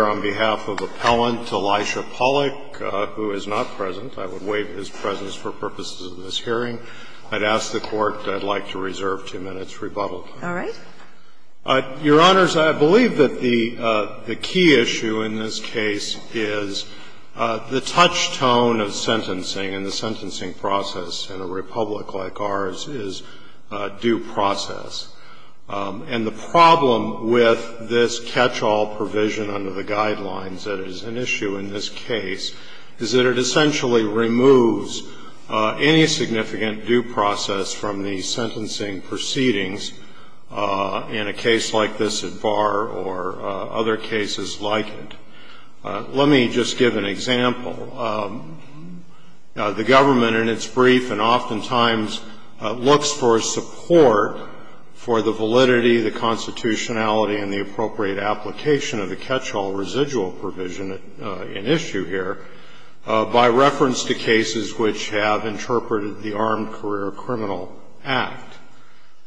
on behalf of Appellant Elisha Pollock, who is not present. I would waive his presence for purposes of this hearing. I'd ask the Court, I'd like to reserve two minutes' rebuttal. All right. Your Honors, I believe that the key issue in this case is the touch tone of sentencing and the sentencing process in a republic like ours is due process. And the problem with this catch-all provision under the guidelines that is an issue in this case is that it essentially removes any significant due process from the sentencing proceedings in a case like this at bar or other cases like it. Let me just give an example. The government in its brief and oftentimes looks for support for the validity, the constitutionality, and the appropriate application of the catch-all residual provision in issue here by reference to cases which have interpreted the Armed Career Criminal Act.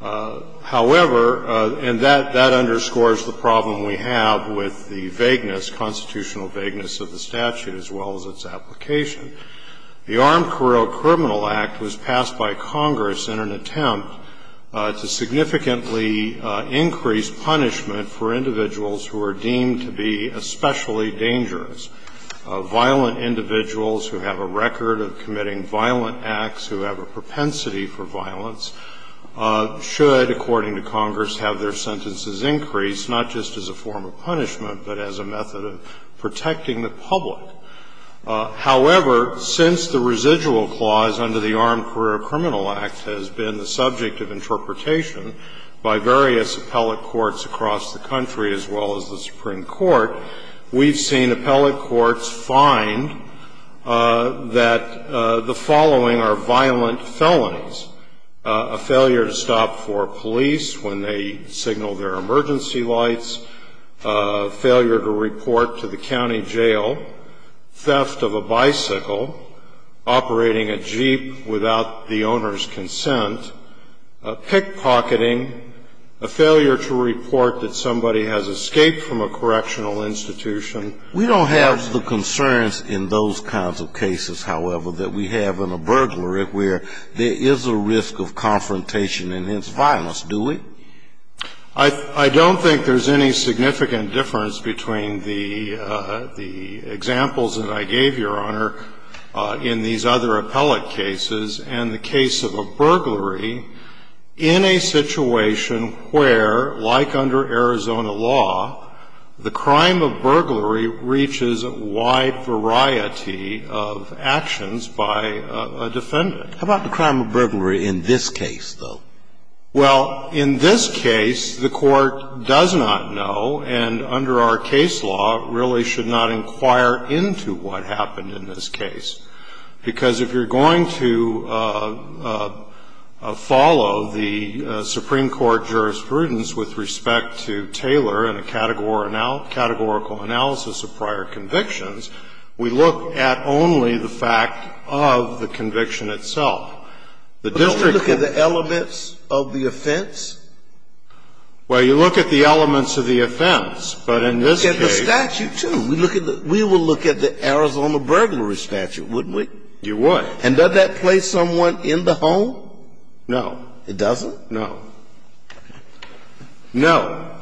However, and that underscores the problem we have with the vagueness, constitutional vagueness of the statute as well as its application. The Armed Career Criminal Act was passed by Congress in an attempt to significantly increase punishment for individuals who are deemed to be especially dangerous, violent individuals who have a record of committing violent acts, who have a propensity for violence, should, according to Congress, have their sentences increased, not just as a form of punishment, but as a method of protecting the public. However, since the residual clause under the Armed Career Criminal Act has been the subject of interpretation by various appellate courts across the country as well as the Supreme Court, we've seen appellate courts find that the following are violent felons, a failure to stop for police when they signal their emergency lights, a failure to report to the county jail, theft of a bicycle, operating a Jeep without the owner's consent, pickpocketing, a failure to report that somebody has escaped from a correctional institution. We don't have the concerns in those kinds of cases, however, that we have in a burglary where there is a risk of confrontation and hence violence, do we? I don't think there's any significant difference between the examples that I gave, Your Honor, in these other appellate cases and the case of a burglary in a situation where, like under Arizona law, the crime of burglary reaches a wide variety of actions by a defendant. How about the crime of burglary in this case, though? Well, in this case, the Court does not know, and under our case law, really should not inquire into what happened in this case. Because if you're going to follow the Supreme Court jurisprudence with respect to Taylor and a categorical analysis of prior convictions, we look at only the fact of the conviction itself. The district court can't. But don't we look at the elements of the offense? Well, you look at the elements of the offense. But in this case the statute, too. We look at the – we would look at the Arizona burglary statute, wouldn't we? You would. And does that place someone in the home? No. It doesn't? No. No.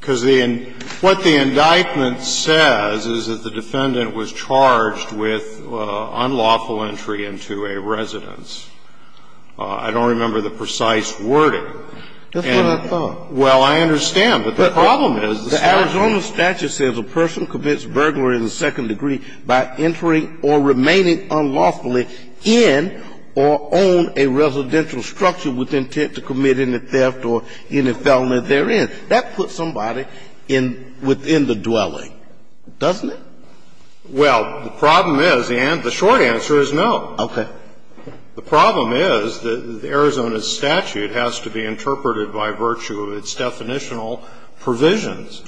Because the – what the indictment says is that the defendant was charged with unlawful entry into a residence. I don't remember the precise wording. That's what I thought. Well, I understand. But the problem is the statute. The Arizona statute says a person commits burglary in the second degree by entering or remaining unlawfully in or on a residential structure with intent to commit any theft or any felony therein. That puts somebody in – within the dwelling, doesn't it? Well, the problem is the short answer is no. Okay. The problem is the Arizona statute has to be interpreted by virtue of its definitional provisions.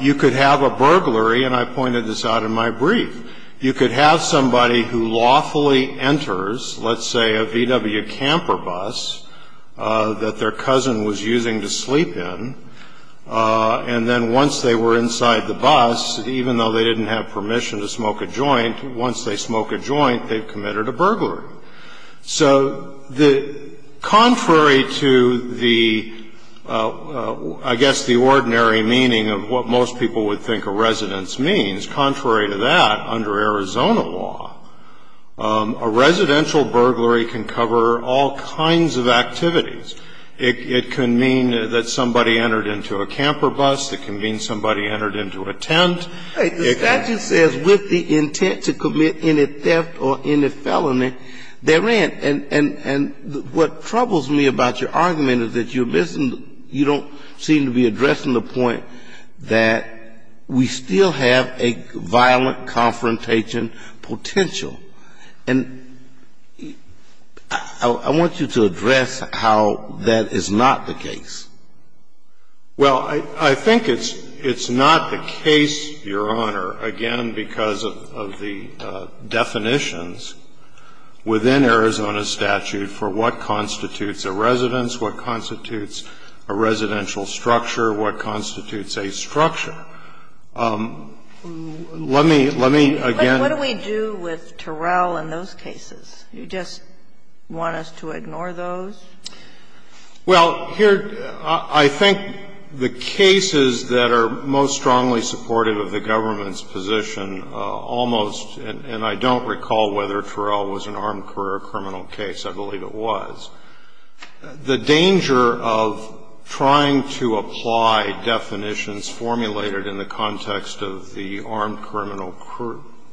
You could have a burglary, and I pointed this out in my brief, you could have somebody who lawfully enters, let's say, a VW camper bus that their cousin was using to sleep in, and then once they were inside the bus, even though they didn't have permission to smoke a joint, once they smoke a joint, they've committed a burglary. So the – contrary to the, I guess, the ordinary meaning of what most people would think a residence means, contrary to that, under Arizona law, a residential burglary can cover all kinds of activities. It can mean that somebody entered into a camper bus. It can mean somebody entered into a tent. It can mean that somebody had a gun. It doesn't matter how many people entered in a car, the point is that a burglary was committed. The statute says with the intent to commit any theft or any felony therein, and what troubles me about your argument is that you're missing – you don't seem to be addressing the point that we still have a violent confrontation potential. And I want you to address how that is not the case. Well, I think it's not the case, Your Honor, again because of the definitions within Arizona's statute for what constitutes a residence, what constitutes a residential structure, what constitutes a structure. Let me – let me again – What do we do with Terrell in those cases? You just want us to ignore those? Well, here – I think the cases that are most strongly supportive of the government's position almost – and I don't recall whether Terrell was an armed career criminal case, I believe it was. The danger of trying to apply definitions formulated in the context of the Armed Criminal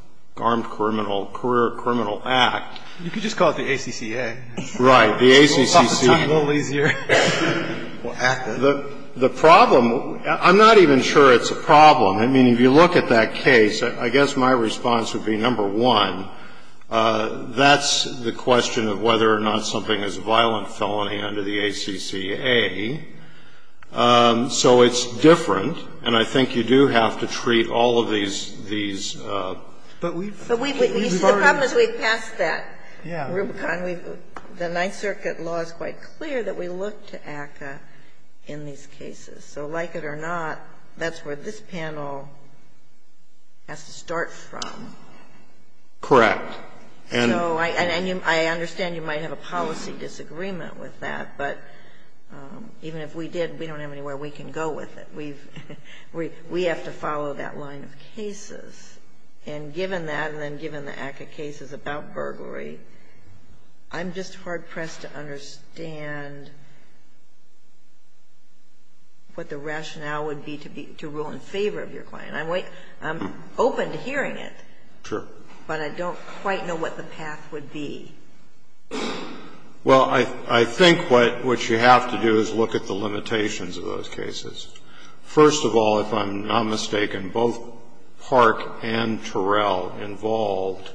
– Armed Career Criminal Act. You could just call it the ACCA. Right. The ACCA. It's a little easier. The problem – I'm not even sure it's a problem. I mean, if you look at that case, I guess my response would be, number one, that's the question of whether or not something is a violent felony under the ACCA. So it's different, and I think you do have to treat all of these – these – But we've already – The problem is we've passed that, Rubicon. The Ninth Circuit law is quite clear that we look to ACCA in these cases. So like it or not, that's where this panel has to start from. Correct. And – So I – and I understand you might have a policy disagreement with that, but even if we did, we don't have anywhere we can go with it. And given that, and then given the ACCA cases about burglary, I'm just hard-pressed to understand what the rationale would be to be – to rule in favor of your client. I'm open to hearing it. Sure. But I don't quite know what the path would be. Well, I think what you have to do is look at the limitations of those cases. First of all, if I'm not mistaken, both Park and Terrell involved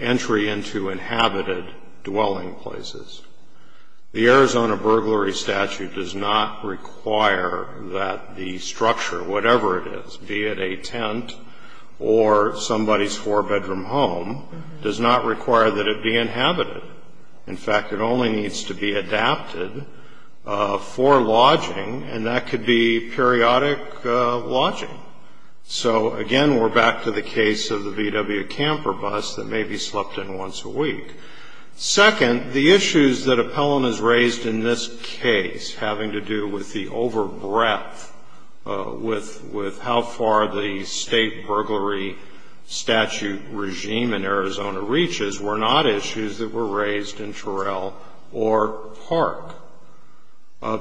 entry into inhabited dwelling places. The Arizona burglary statute does not require that the structure, whatever it is, be it a tent or somebody's four-bedroom home, does not require that it be inhabited. In fact, it only needs to be adapted for lodging, and that could be periodic lodging. So again, we're back to the case of the VW camper bus that may be slept in once a week. Second, the issues that Appellant has raised in this case having to do with the over-breath with how far the state burglary statute regime in Arizona reaches were not issues that were raised in Terrell or Park.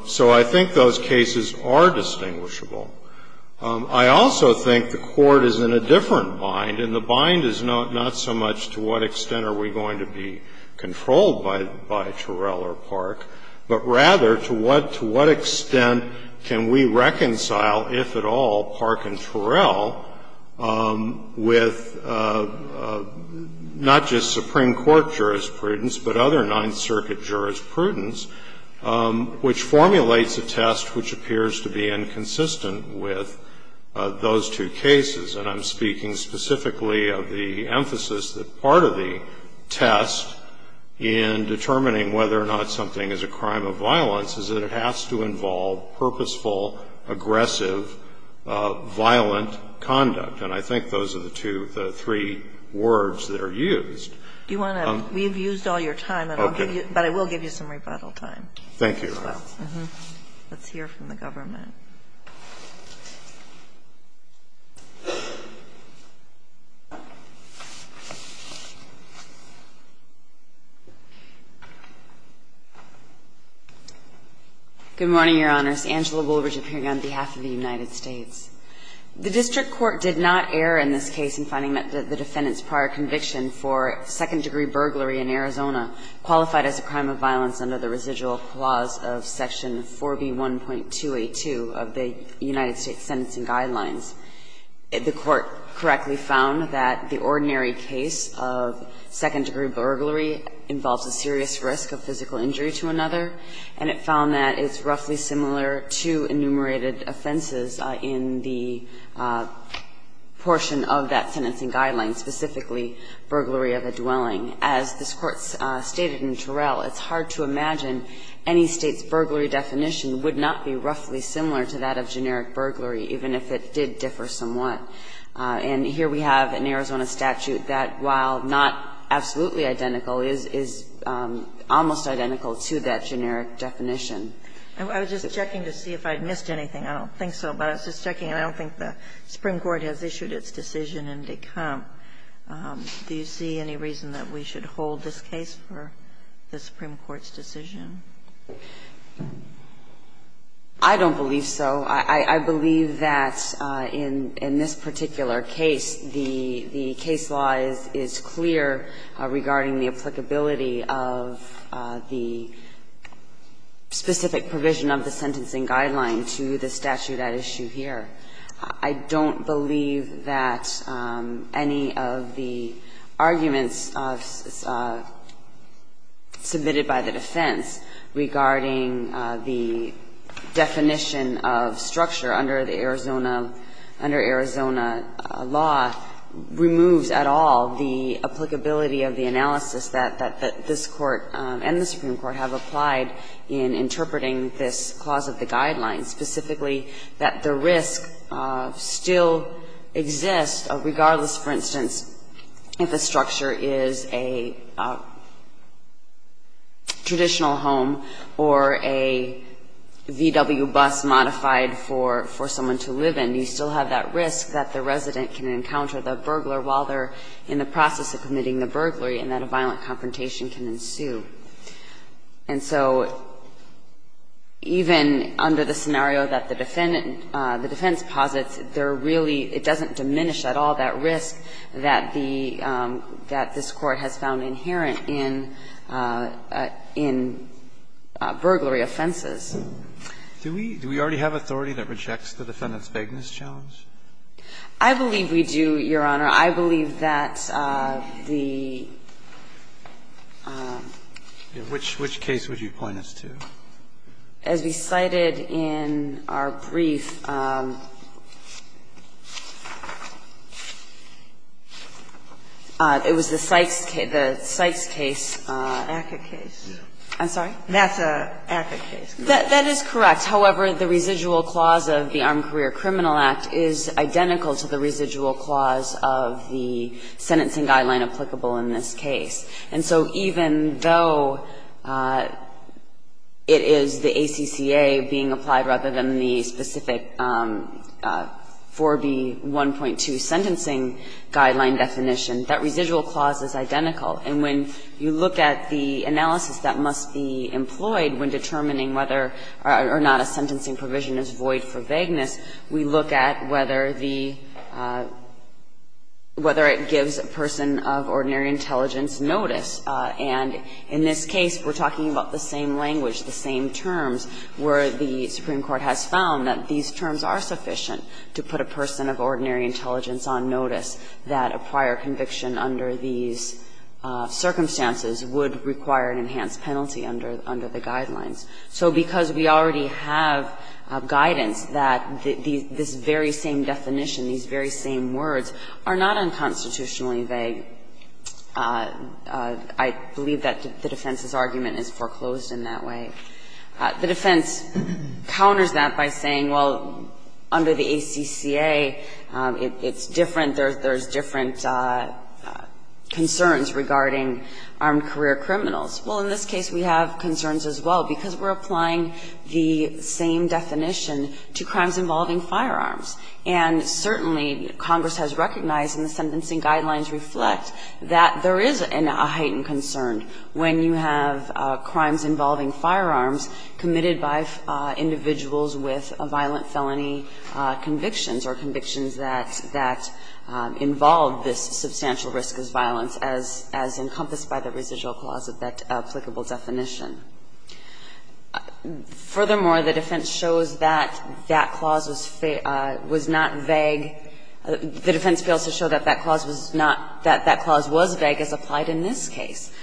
So I think those cases are distinguishable. I also think the Court is in a different bind, and the bind is not so much to what extent are we going to be controlled by Terrell or Park, but rather to what extent can we reconcile, if at all, Park and Terrell with not just Supreme Court jurisprudence, but other Ninth Circuit jurisprudence, which formulates a test which appears to be inconsistent with those two cases. And I'm speaking specifically of the emphasis that part of the test in determining whether or not something is a crime of violence is that it has to involve purposeful, aggressive, violent conduct. And I think those are the two, the three words that are used. Do you want to? We've used all your time, but I will give you some rebuttal time. Thank you. Let's hear from the government. Good morning, Your Honors. Angela Woolridge appearing on behalf of the United States. The district court did not err in this case in finding that the defendant's prior conviction for second-degree burglary in Arizona qualified as a crime of violence under the residual clause of Section 4B1.282 of the United States Sentencing Guidelines. The court correctly found that the ordinary case of second-degree burglary involves a serious risk of physical injury to another, and it found that it's roughly similar to enumerated offenses in the portion of that sentencing guideline, specifically burglary of a dwelling. As this Court stated in Terrell, it's hard to imagine any State's burglary definition would not be roughly similar to that of generic burglary, even if it did differ somewhat. And here we have an Arizona statute that, while not absolutely identical, is almost identical to that generic definition. I was just checking to see if I missed anything. I don't think so, but I was just checking. And I don't think the Supreme Court has issued its decision in de camp. Do you see any reason that we should hold this case for the Supreme Court's decision? I don't believe so. I believe that in this particular case, the case law is clear regarding the applicability of the specific provision of the sentencing guideline to the statute at issue here. I don't believe that any of the arguments submitted by the defense regarding the definition of structure under the Arizona law removes at all the applicability of the analysis that this Court and the Supreme Court have applied in interpreting this clause of the guideline, specifically that the risk still exists regardless, for instance, if a structure is a traditional home or a VW bus modified for someone to live in. You still have that risk that the resident can encounter the burglar while they're in the process of committing the burglary and that a violent confrontation can ensue. And so even under the scenario that the defendant, the defense posits, there really doesn't diminish at all that risk that the, that this Court has found inherent in, in burglary offenses. Do we, do we already have authority that rejects the defendant's vagueness challenge? I believe we do, Your Honor. I believe that the --- Which, which case would you point us to? As we cited in our brief, it was the Sykes case, the Sykes case. ACCA case. I'm sorry? That's an ACCA case. That is correct. However, the residual clause of the Armed Career Criminal Act is identical to the residual clause of the sentencing guideline applicable in this case. And so even though it is the ACCA being applied rather than the specific 4B1.2 sentencing guideline definition, that residual clause is identical. And when you look at the analysis that must be employed when determining whether or not a sentencing provision is void for vagueness, we look at whether the, whether it gives a person of ordinary intelligence notice. And in this case, we're talking about the same language, the same terms where the Supreme Court has found that these terms are sufficient to put a person of ordinary intelligence on notice that a prior conviction under these circumstances would require an enhanced penalty under the guidelines. So because we already have guidance that this very same definition, these very same words, are not unconstitutionally vague, I believe that the defense's argument is foreclosed in that way. The defense counters that by saying, well, under the ACCA, it's different, there's different concerns regarding armed career criminals. Well, in this case, we have concerns as well because we're applying the same definition to crimes involving firearms. And certainly, Congress has recognized in the sentencing guidelines reflect that there is a heightened concern when you have crimes involving firearms committed by individuals with violent felony convictions or convictions that involve this substantial risk of violence as encompassed by the residual clause of that applicable definition. Furthermore, the defense shows that that clause was not vague. The defense fails to show that that clause was not, that that clause was vague as applied in this case.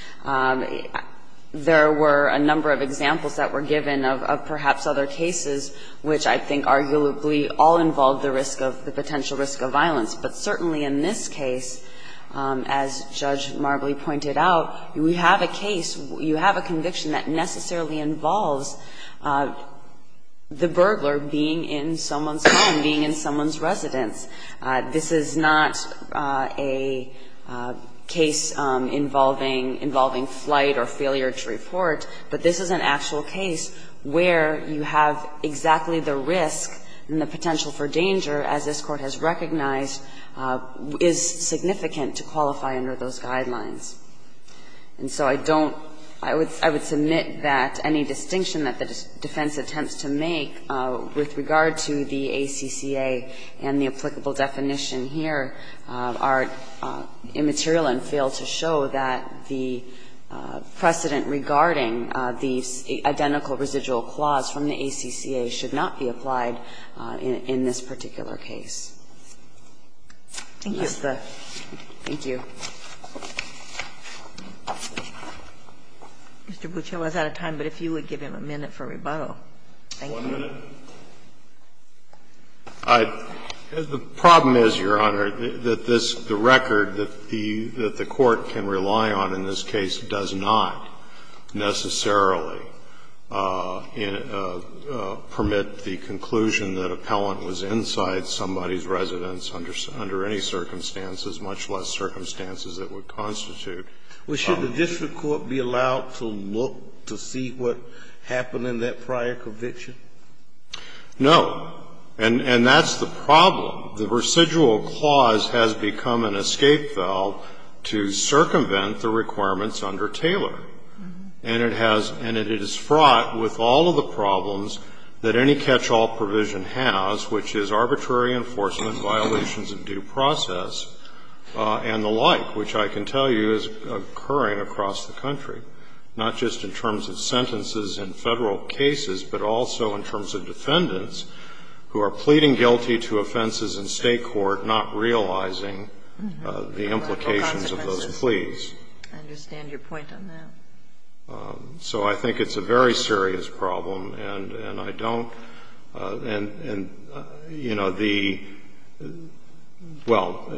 There were a number of examples that were given of perhaps other cases which I think arguably all involved the risk of, the potential risk of violence. But certainly in this case, as Judge Marbley pointed out, you have a case, you have a conviction that necessarily involves the burglar being in someone's home, being in someone's residence. This is not a case involving, involving flight or failure to report, but this is an actual case where you have exactly the risk and the potential for danger as this Court has recognized is significant to qualify under those guidelines. And so I don't, I would, I would submit that any distinction that the defense attempts to make with regard to the ACCA and the applicable definition here are immaterial and fail to show that the precedent regarding the identical residual clause from the ACCA should not be applied in this particular case. Thank you. Thank you. Mr. Buccio, I was out of time, but if you would give him a minute for rebuttal. One minute. The problem is, Your Honor, that this, the record that the Court can rely on in this case does not necessarily permit the conclusion that appellant was inside somebody's residence under any circumstances, much less circumstances that would constitute. Well, should the district court be allowed to look to see what happened in that prior conviction? No. And, and that's the problem. The residual clause has become an escape valve to circumvent the requirements under Taylor. And it has, and it is fraught with all of the problems that any catch-all provision has, which is arbitrary enforcement, violations of due process, and the like, which I can tell you is occurring across the country, not just in terms of sentences in Federal cases, but also in terms of defendants who are pleading guilty to offenses in State court, not realizing the implications of those pleas. I understand your point on that. So I think it's a very serious problem, and I don't, and, you know, the, well,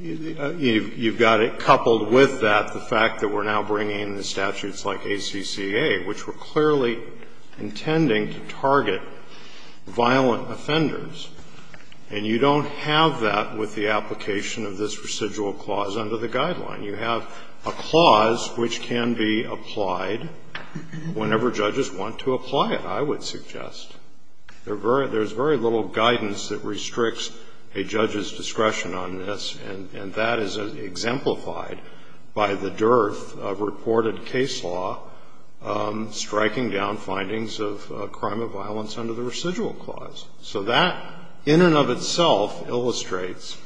you've got it coupled with that, the fact that we're now bringing in the statutes like ACCA, which were clearly intending to target violent offenders, and you don't have that with the application of this residual clause under the guideline. You have a clause which can be applied whenever judges want to apply it, I would suggest. There's very little guidance that restricts a judge's discretion on this, and that is exemplified by the dearth of reported case law striking down findings of crime of violence under the residual clause. So that, in and of itself, illustrates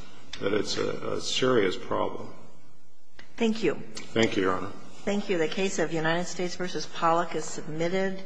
that it's a serious problem. Thank you. Thank you, Your Honor. Thank you. The case of United States v. Pollack is submitted.